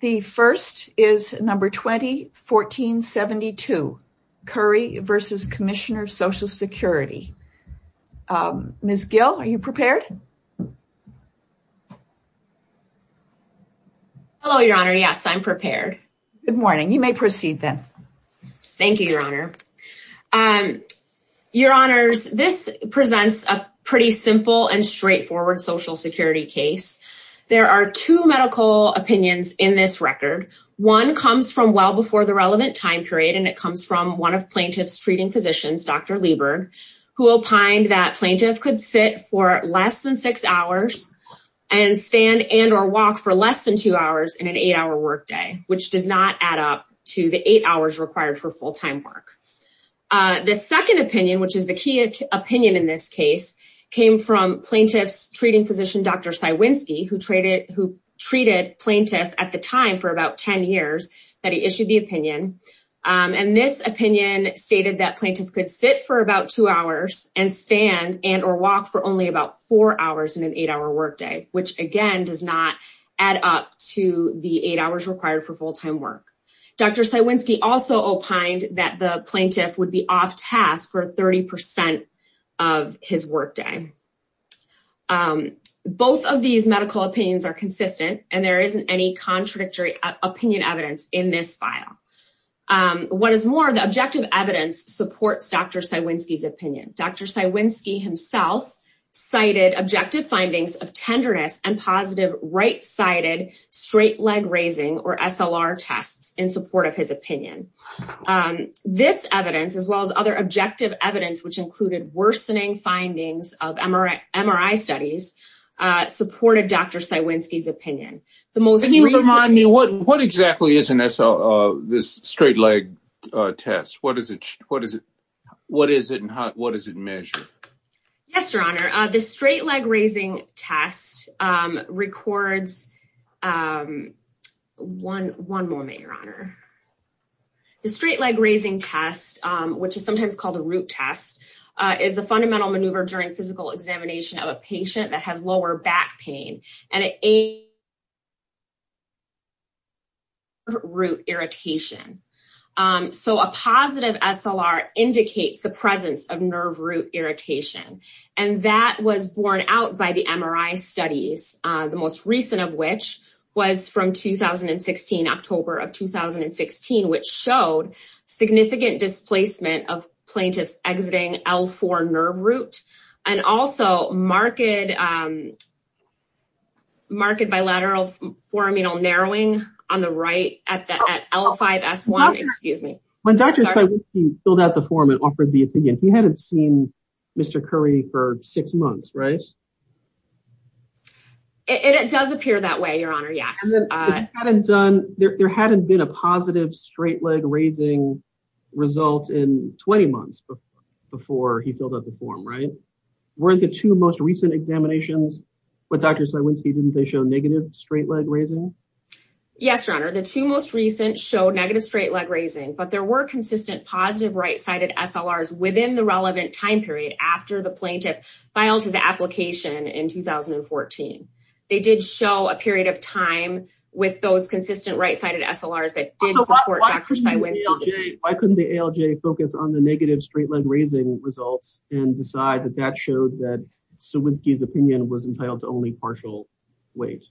The first is number 2014-72, Curry v. Commissioner of Social Security. Ms. Gill, are you prepared? Hello, Your Honor. Yes, I'm prepared. Good morning. You may proceed then. Thank you, Your Honor. Your Honors, this presents a pretty simple and straightforward social security case. There are two medical opinions in this record. One comes from well before the relevant time period, and it comes from one of plaintiff's treating physicians, Dr. Lieberg, who opined that plaintiff could sit for less than six hours and stand and or walk for less than two hours in an eight-hour workday, which does not add up to the eight hours required for full-time work. The second opinion, which is the key opinion in this case, came from plaintiff's treating physician, Dr. Cywinski, who treated plaintiff at the time for about ten years that he issued the opinion, and this opinion stated that plaintiff could sit for about two hours and stand and or walk for only about four hours in an eight-hour workday, which, again, does not add up to the eight hours required for full-time work. Dr. Cywinski also opined that the plaintiff would be off task for 30% of his workday. Both of these medical opinions are consistent, and there isn't any contradictory opinion evidence in this file. What is more, the objective evidence supports Dr. Cywinski's opinion. Dr. Cywinski himself cited objective findings of tenderness and positive right-sided straight leg raising, or SLR, tests in support of his opinion. This evidence, as well as other objective evidence, which included worsening findings of MRI studies, supported Dr. Cywinski's opinion. Can you remind me, what exactly is an SLR, this straight leg test? What is it and what does it measure? Yes, Your Honor. The straight leg raising test records one moment, Your Honor. The straight leg raising test, which is sometimes called a root test, is a fundamental maneuver during physical examination of a patient that has lower back pain and a nerve root irritation. A positive SLR indicates the presence of nerve root irritation, and that was borne out by the MRI studies, the most recent of which was from October of 2016, which showed significant displacement of plaintiffs exiting L4 nerve root and also marked bilateral foramenal narrowing on the right at L5-S1. When Dr. Cywinski filled out the form and offered the opinion, he hadn't seen Mr. Curry for six months, right? It does appear that way, Your Honor, yes. There hadn't been a positive straight leg raising result in 20 months before he filled out the form, right? Weren't the two most recent examinations with Dr. Cywinski, didn't they show negative straight leg raising? Yes, Your Honor. The two most recent showed negative straight leg raising, but there were consistent positive right-sided SLRs within the relevant time period after the plaintiff filed his application in 2014. They did show a period of time with those consistent right-sided SLRs that did support Dr. Cywinski. Why couldn't the ALJ focus on the negative straight leg raising results and decide that that showed that Cywinski's opinion was entitled to only partial weight?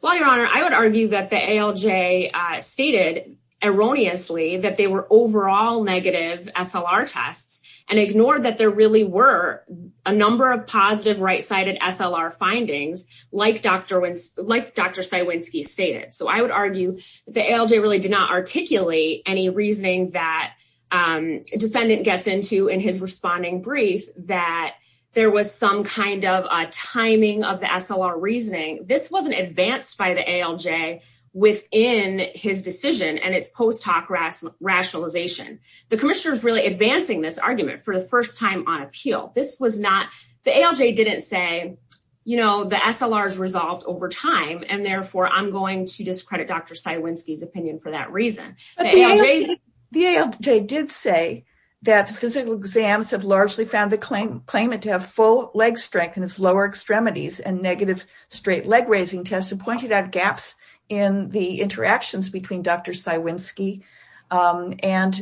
Well, Your Honor, I would argue that the ALJ stated erroneously that they were overall negative SLR tests and ignored that there really were a number of positive right-sided SLR findings, like Dr. Cywinski stated. So I would argue that the ALJ really did not articulate any reasoning that a defendant gets into in his responding brief that there was some kind of timing of the SLR reasoning. This wasn't advanced by the ALJ within his decision and its post hoc rationalization. The commissioner is really advancing this argument for the first time on appeal. This was not – the ALJ didn't say, you know, the SLR is resolved over time, and therefore I'm going to discredit Dr. Cywinski's opinion for that reason. The ALJ did say that the physical exams have largely found the claimant to have full leg strength in his lower extremities and negative straight leg raising tests and pointed out gaps in the interactions between Dr. Cywinski and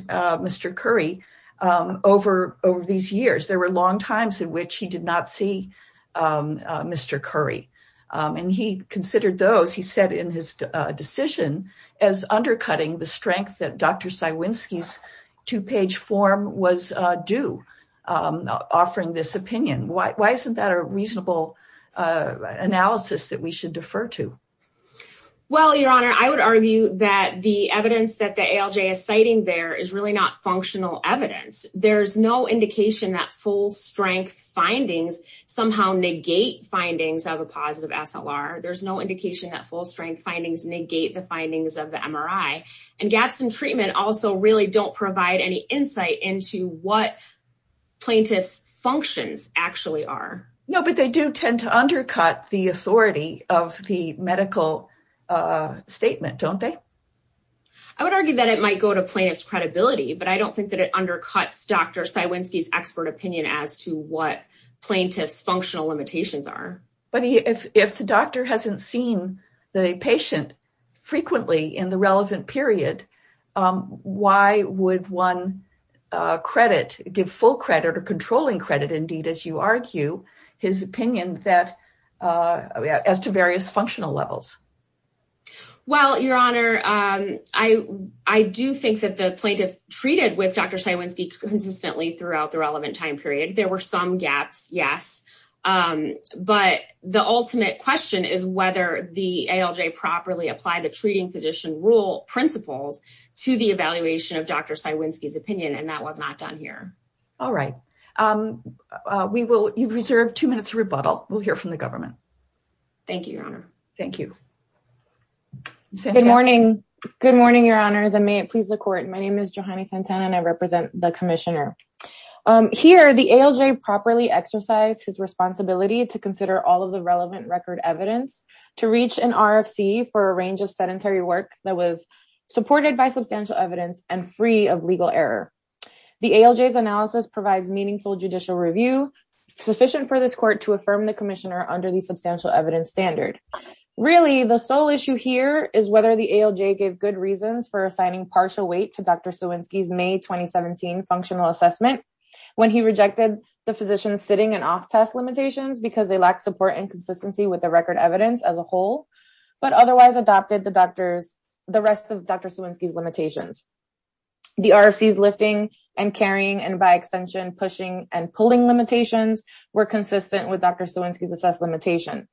Mr. Curry over these years. There were long times in which he did not see Mr. Curry, and he considered those, he said in his decision, as undercutting the strength that Dr. Cywinski's two-page form was due offering this opinion. Why isn't that a reasonable analysis that we should defer to? Well, Your Honor, I would argue that the evidence that the ALJ is citing there is really not functional evidence. There's no indication that full strength findings somehow negate findings of a positive SLR. There's no indication that full strength findings negate the findings of the MRI. And gaps in treatment also really don't provide any insight into what plaintiff's functions actually are. No, but they do tend to undercut the authority of the medical statement, don't they? I would argue that it might go to plaintiff's credibility, but I don't think that it undercuts Dr. Cywinski's expert opinion as to what plaintiff's functional limitations are. But if the doctor hasn't seen the patient frequently in the relevant period, why would one give full credit or controlling credit, indeed, as you argue, his opinion as to various functional levels? Well, Your Honor, I do think that the plaintiff treated with Dr. Cywinski consistently throughout the relevant time period. There were some gaps, yes. But the ultimate question is whether the ALJ properly applied the treating physician rule principles to the evaluation of Dr. Cywinski's opinion, and that was not done here. All right. You've reserved two minutes of rebuttal. We'll hear from the government. Thank you, Your Honor. Thank you. Good morning. Good morning, Your Honors, and may it please the court. My name is Johanny Santana and I represent the commissioner. Here, the ALJ properly exercised his responsibility to consider all of the relevant record evidence to reach an RFC for a range of sedentary work that was supported by substantial evidence and free of legal error. The ALJ's analysis provides meaningful judicial review sufficient for this court to affirm the commissioner under the substantial evidence standard. Really, the sole issue here is whether the ALJ gave good reasons for assigning partial weight to Dr. Cywinski's May 2017 functional assessment when he rejected the physician's sitting and off test limitations because they lacked support and consistency with the record evidence as a whole, but otherwise adopted the rest of Dr. Cywinski's limitations. The RFC's lifting and carrying and by extension pushing and pulling limitations were consistent with Dr. Cywinski's assessed limitations.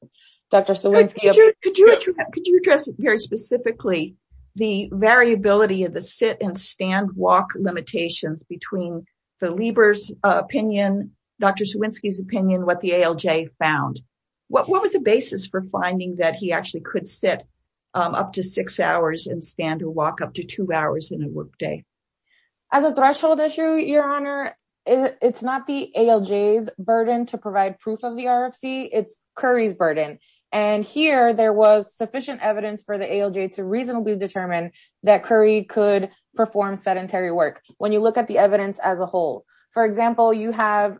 Dr. Cywinski, could you address here specifically the variability of the sit and stand walk limitations between the Lieber's opinion, Dr. Cywinski's opinion, what the ALJ found? What was the basis for finding that he actually could sit up to six hours and stand or walk up to two hours in a work day? As a threshold issue, your honor, it's not the ALJ's burden to provide proof of the RFC, it's Curry's burden. And here there was sufficient evidence for the ALJ to reasonably determine that Curry could perform sedentary work. When you look at the evidence as a whole, for example, you have,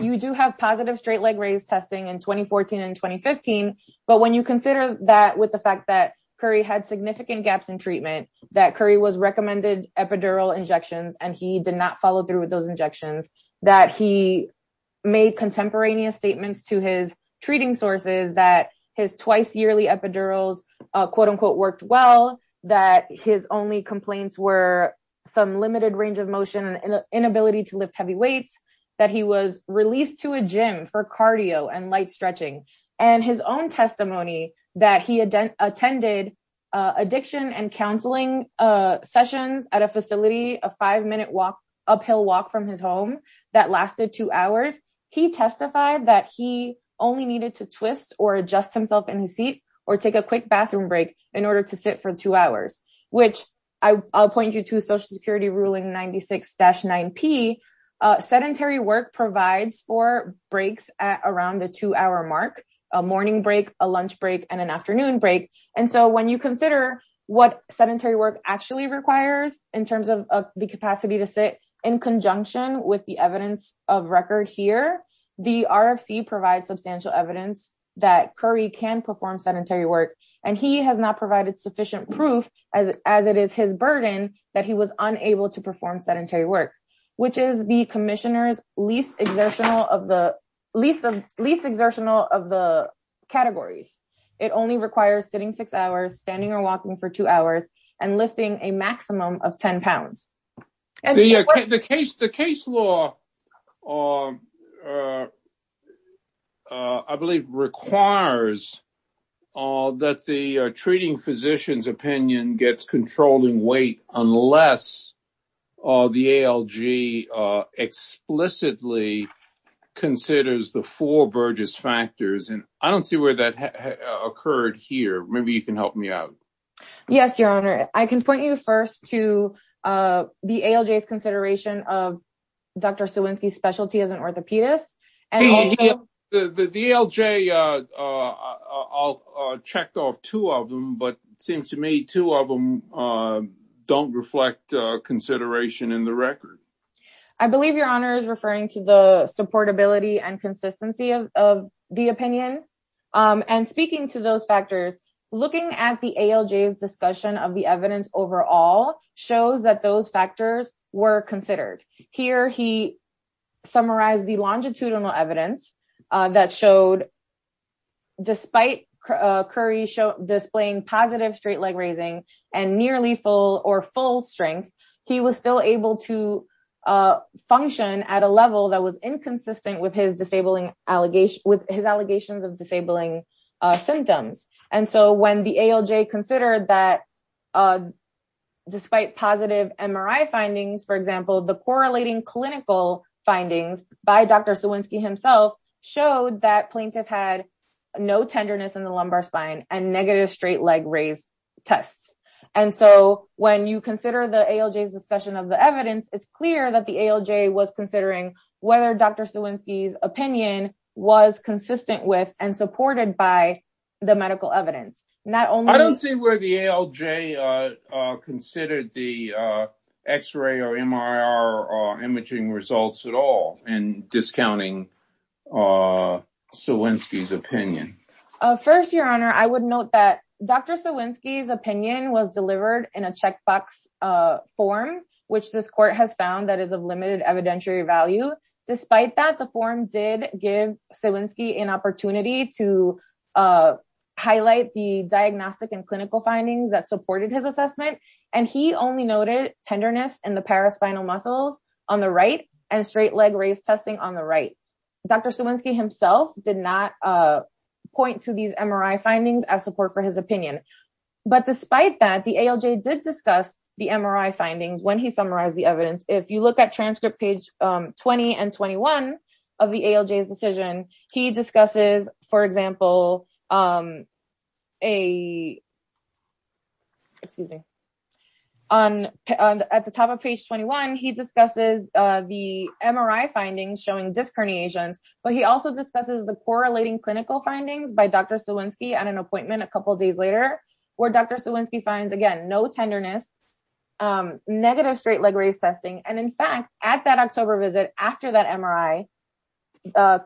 you do have positive straight leg raise testing in 2014 and 2015. But when you consider that with the fact that Curry had significant gaps in treatment, that Curry was recommended epidural injections, and he did not follow through with those injections, that he made contemporaneous statements to his treating sources, that his twice yearly epidurals quote unquote worked well, that his only complaints were some limited range of motion, inability to lift heavy weights, that he was released to a gym for cardio and light stretching. And his own testimony that he had attended addiction and counseling sessions at a facility, a five minute walk, uphill walk from his home that lasted two hours. He testified that he only needed to twist or adjust himself in his seat or take a quick bathroom break in order to sit for two hours, which I'll point you to Social Security ruling 96-9P, sedentary work provides for breaks around the two hour mark, a morning break, a lunch break and an afternoon break. And so when you consider what sedentary work actually requires in terms of the capacity to sit in conjunction with the evidence of record here, the RFC provides substantial evidence that Curry can perform sedentary work, and he has not provided sufficient proof as it is his burden that he was unable to perform sedentary work, which is the commissioner's least exertional of the least of least exertional of the categories. It only requires sitting six hours, standing or walking for two hours and lifting a maximum of 10 pounds. The case, the case law, I believe, requires that the treating physician's opinion gets controlling weight unless the ALG explicitly considers the four Burgess factors. And I don't see where that occurred here. Maybe you can help me out. Yes, Your Honor, I can point you first to the ALG's consideration of Dr. Sawinski's specialty as an orthopedist and the ALG. I'll check off two of them, but it seems to me two of them don't reflect consideration in the record. I believe Your Honor is referring to the supportability and consistency of the opinion. And speaking to those factors, looking at the ALG's discussion of the evidence overall shows that those factors were considered. Here, he summarized the longitudinal evidence that showed. Despite Curry displaying positive straight leg raising and nearly full or full strength, he was still able to function at a level that was inconsistent with his disabling allegations with his allegations of disabling symptoms. And so when the ALG considered that, despite positive MRI findings, for example, the correlating clinical findings by Dr. Sawinski himself showed that plaintiff had no tenderness in the lumbar spine and negative straight leg raise tests. And so when you consider the ALG's discussion of the evidence, it's clear that the ALG was considering whether Dr. Sawinski's opinion was consistent with and supported by the medical evidence. Not only I don't see where the ALG considered the X-ray or MRI imaging results at all and discounting Sawinski's opinion. First, Your Honor, I would note that Dr. Sawinski's opinion was delivered in a checkbox form, which this court has found that is of limited evidentiary value. Despite that, the form did give Sawinski an opportunity to highlight the diagnostic and clinical findings that supported his assessment. And he only noted tenderness in the paraspinal muscles on the right and straight leg race testing on the right. Dr. Sawinski himself did not point to these MRI findings as support for his opinion. But despite that, the ALG did discuss the MRI findings when he summarized the evidence. If you look at transcript page 20 and 21 of the ALG's decision, he discusses, for example, a. At the top of page 21, he discusses the MRI findings showing disc herniations, but he also discusses the correlating clinical findings by Dr. Sawinski at an appointment a couple of days later where Dr. Sawinski finds, again, no tenderness, negative straight leg race testing. And in fact, at that October visit after that MRI,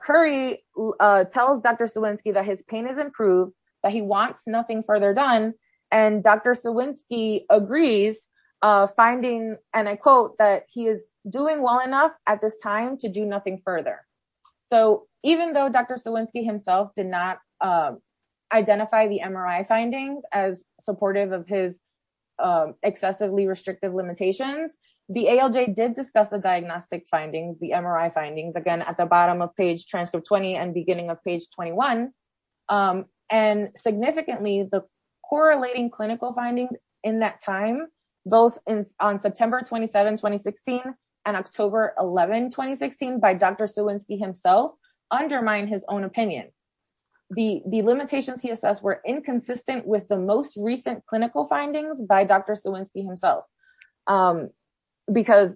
Curry tells Dr. Sawinski that his pain is improved, that he wants nothing further done. And Dr. Sawinski agrees, finding, and I quote, that he is doing well enough at this time to do nothing further. So even though Dr. Sawinski himself did not identify the MRI findings as supportive of his excessively restrictive limitations, the ALG did discuss the diagnostic findings, the MRI findings, again, at the bottom of page transcript 20 and beginning of page 21. And significantly, the correlating clinical findings in that time, both on September 27, 2016 and October 11, 2016, by Dr. Sawinski himself undermine his own opinion. The limitations he assessed were inconsistent with the most recent clinical findings by Dr. Sawinski because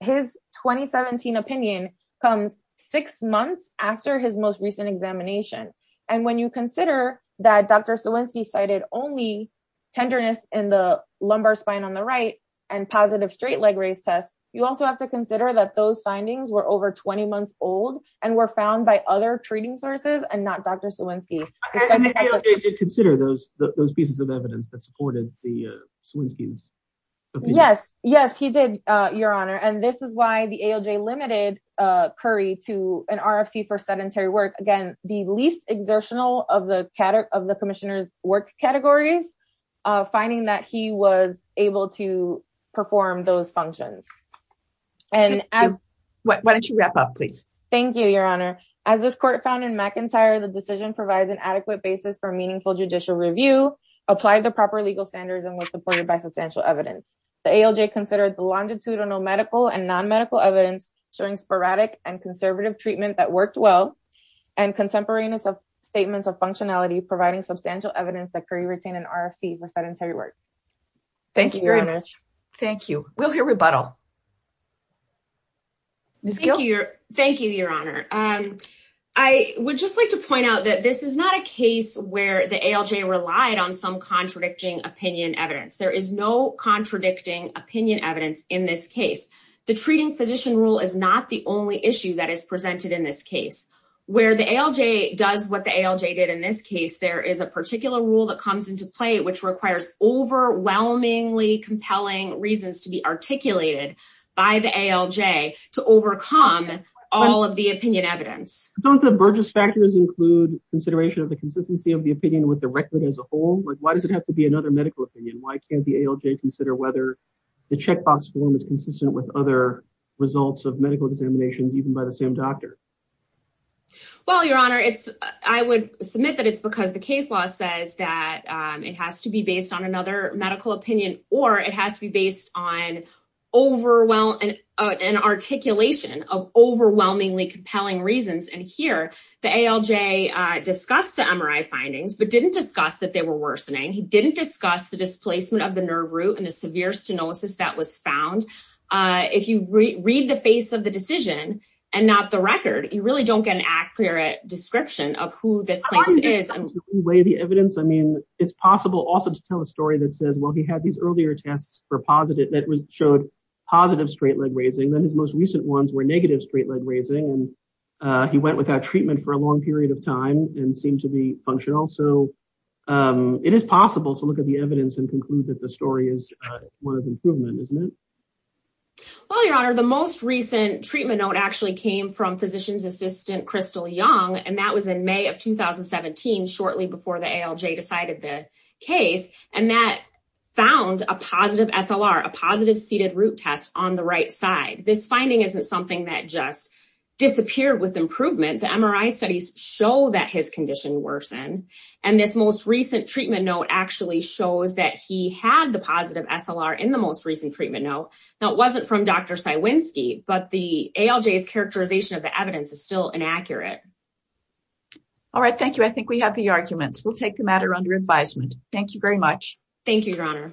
his 2017 opinion comes six months after his most recent examination. And when you consider that Dr. Sawinski cited only tenderness in the lumbar spine on the right and positive straight leg race tests, you also have to consider that those findings were over 20 months old and were found by other treating sources and not Dr. Sawinski. Consider those those pieces of evidence that supported the Swinsky's. Yes, yes, he did, Your Honor. And this is why the ALJ limited Curry to an RFC for sedentary work. Again, the least exertional of the of the commissioner's work categories, finding that he was able to perform those functions. And why don't you wrap up, please? Thank you, Your Honor. As this court found in McIntyre, the decision provides an adequate basis for meaningful judicial review, applied the proper legal standards and was supported by substantial evidence. The ALJ considered the longitudinal medical and non-medical evidence showing sporadic and conservative treatment that worked well and contemporaneous statements of functionality, providing substantial evidence that Curry retained an RFC for sedentary work. Thank you, Your Honor. Thank you. We'll hear rebuttal. Thank you. Thank you, Your Honor. I would just like to point out that this is not a case where the ALJ relied on some contradicting opinion evidence. There is no contradicting opinion evidence in this case. The treating physician rule is not the only issue that is presented in this case where the ALJ does what the ALJ did. In this case, there is a particular rule that comes into play, which requires overwhelmingly compelling reasons to be articulated by the ALJ to overcome all of the opinion evidence. Don't the Burgess factors include consideration of the consistency of the opinion with the record as a whole? Why does it have to be another medical opinion? Why can't the ALJ consider whether the checkbox form is consistent with other results of medical examinations, even by the same doctor? Well, Your Honor, I would submit that it's because the case law says that it has to be based on another medical opinion or it has to be based on an articulation of overwhelmingly compelling reasons. And here, the ALJ discussed the MRI findings but didn't discuss that they were worsening. He didn't discuss the displacement of the nerve root and the severe stenosis that was found. If you read the face of the decision and not the record, you really don't get an accurate description of who this patient is. Can you weigh the evidence? I mean, it's possible also to tell a story that says, well, he had these earlier tests that showed positive straight leg raising. Then his most recent ones were negative straight leg raising, and he went without treatment for a long period of time and seemed to be functional. So it is possible to look at the evidence and conclude that the story is one of improvement, isn't it? Well, Your Honor, the most recent treatment note actually came from physician's assistant, Crystal Young. And that was in May of 2017, shortly before the ALJ decided the case. And that found a positive SLR, a positive seated root test on the right side. This finding isn't something that just disappeared with improvement. The MRI studies show that his condition worsened. And this most recent treatment note actually shows that he had the positive SLR in the most recent treatment note. Now, it wasn't from Dr. Cywinski, but the ALJ's characterization of the evidence is still inaccurate. All right. Thank you. I think we have the arguments. We'll take the matter under advisement. Thank you very much. Thank you, Your Honor.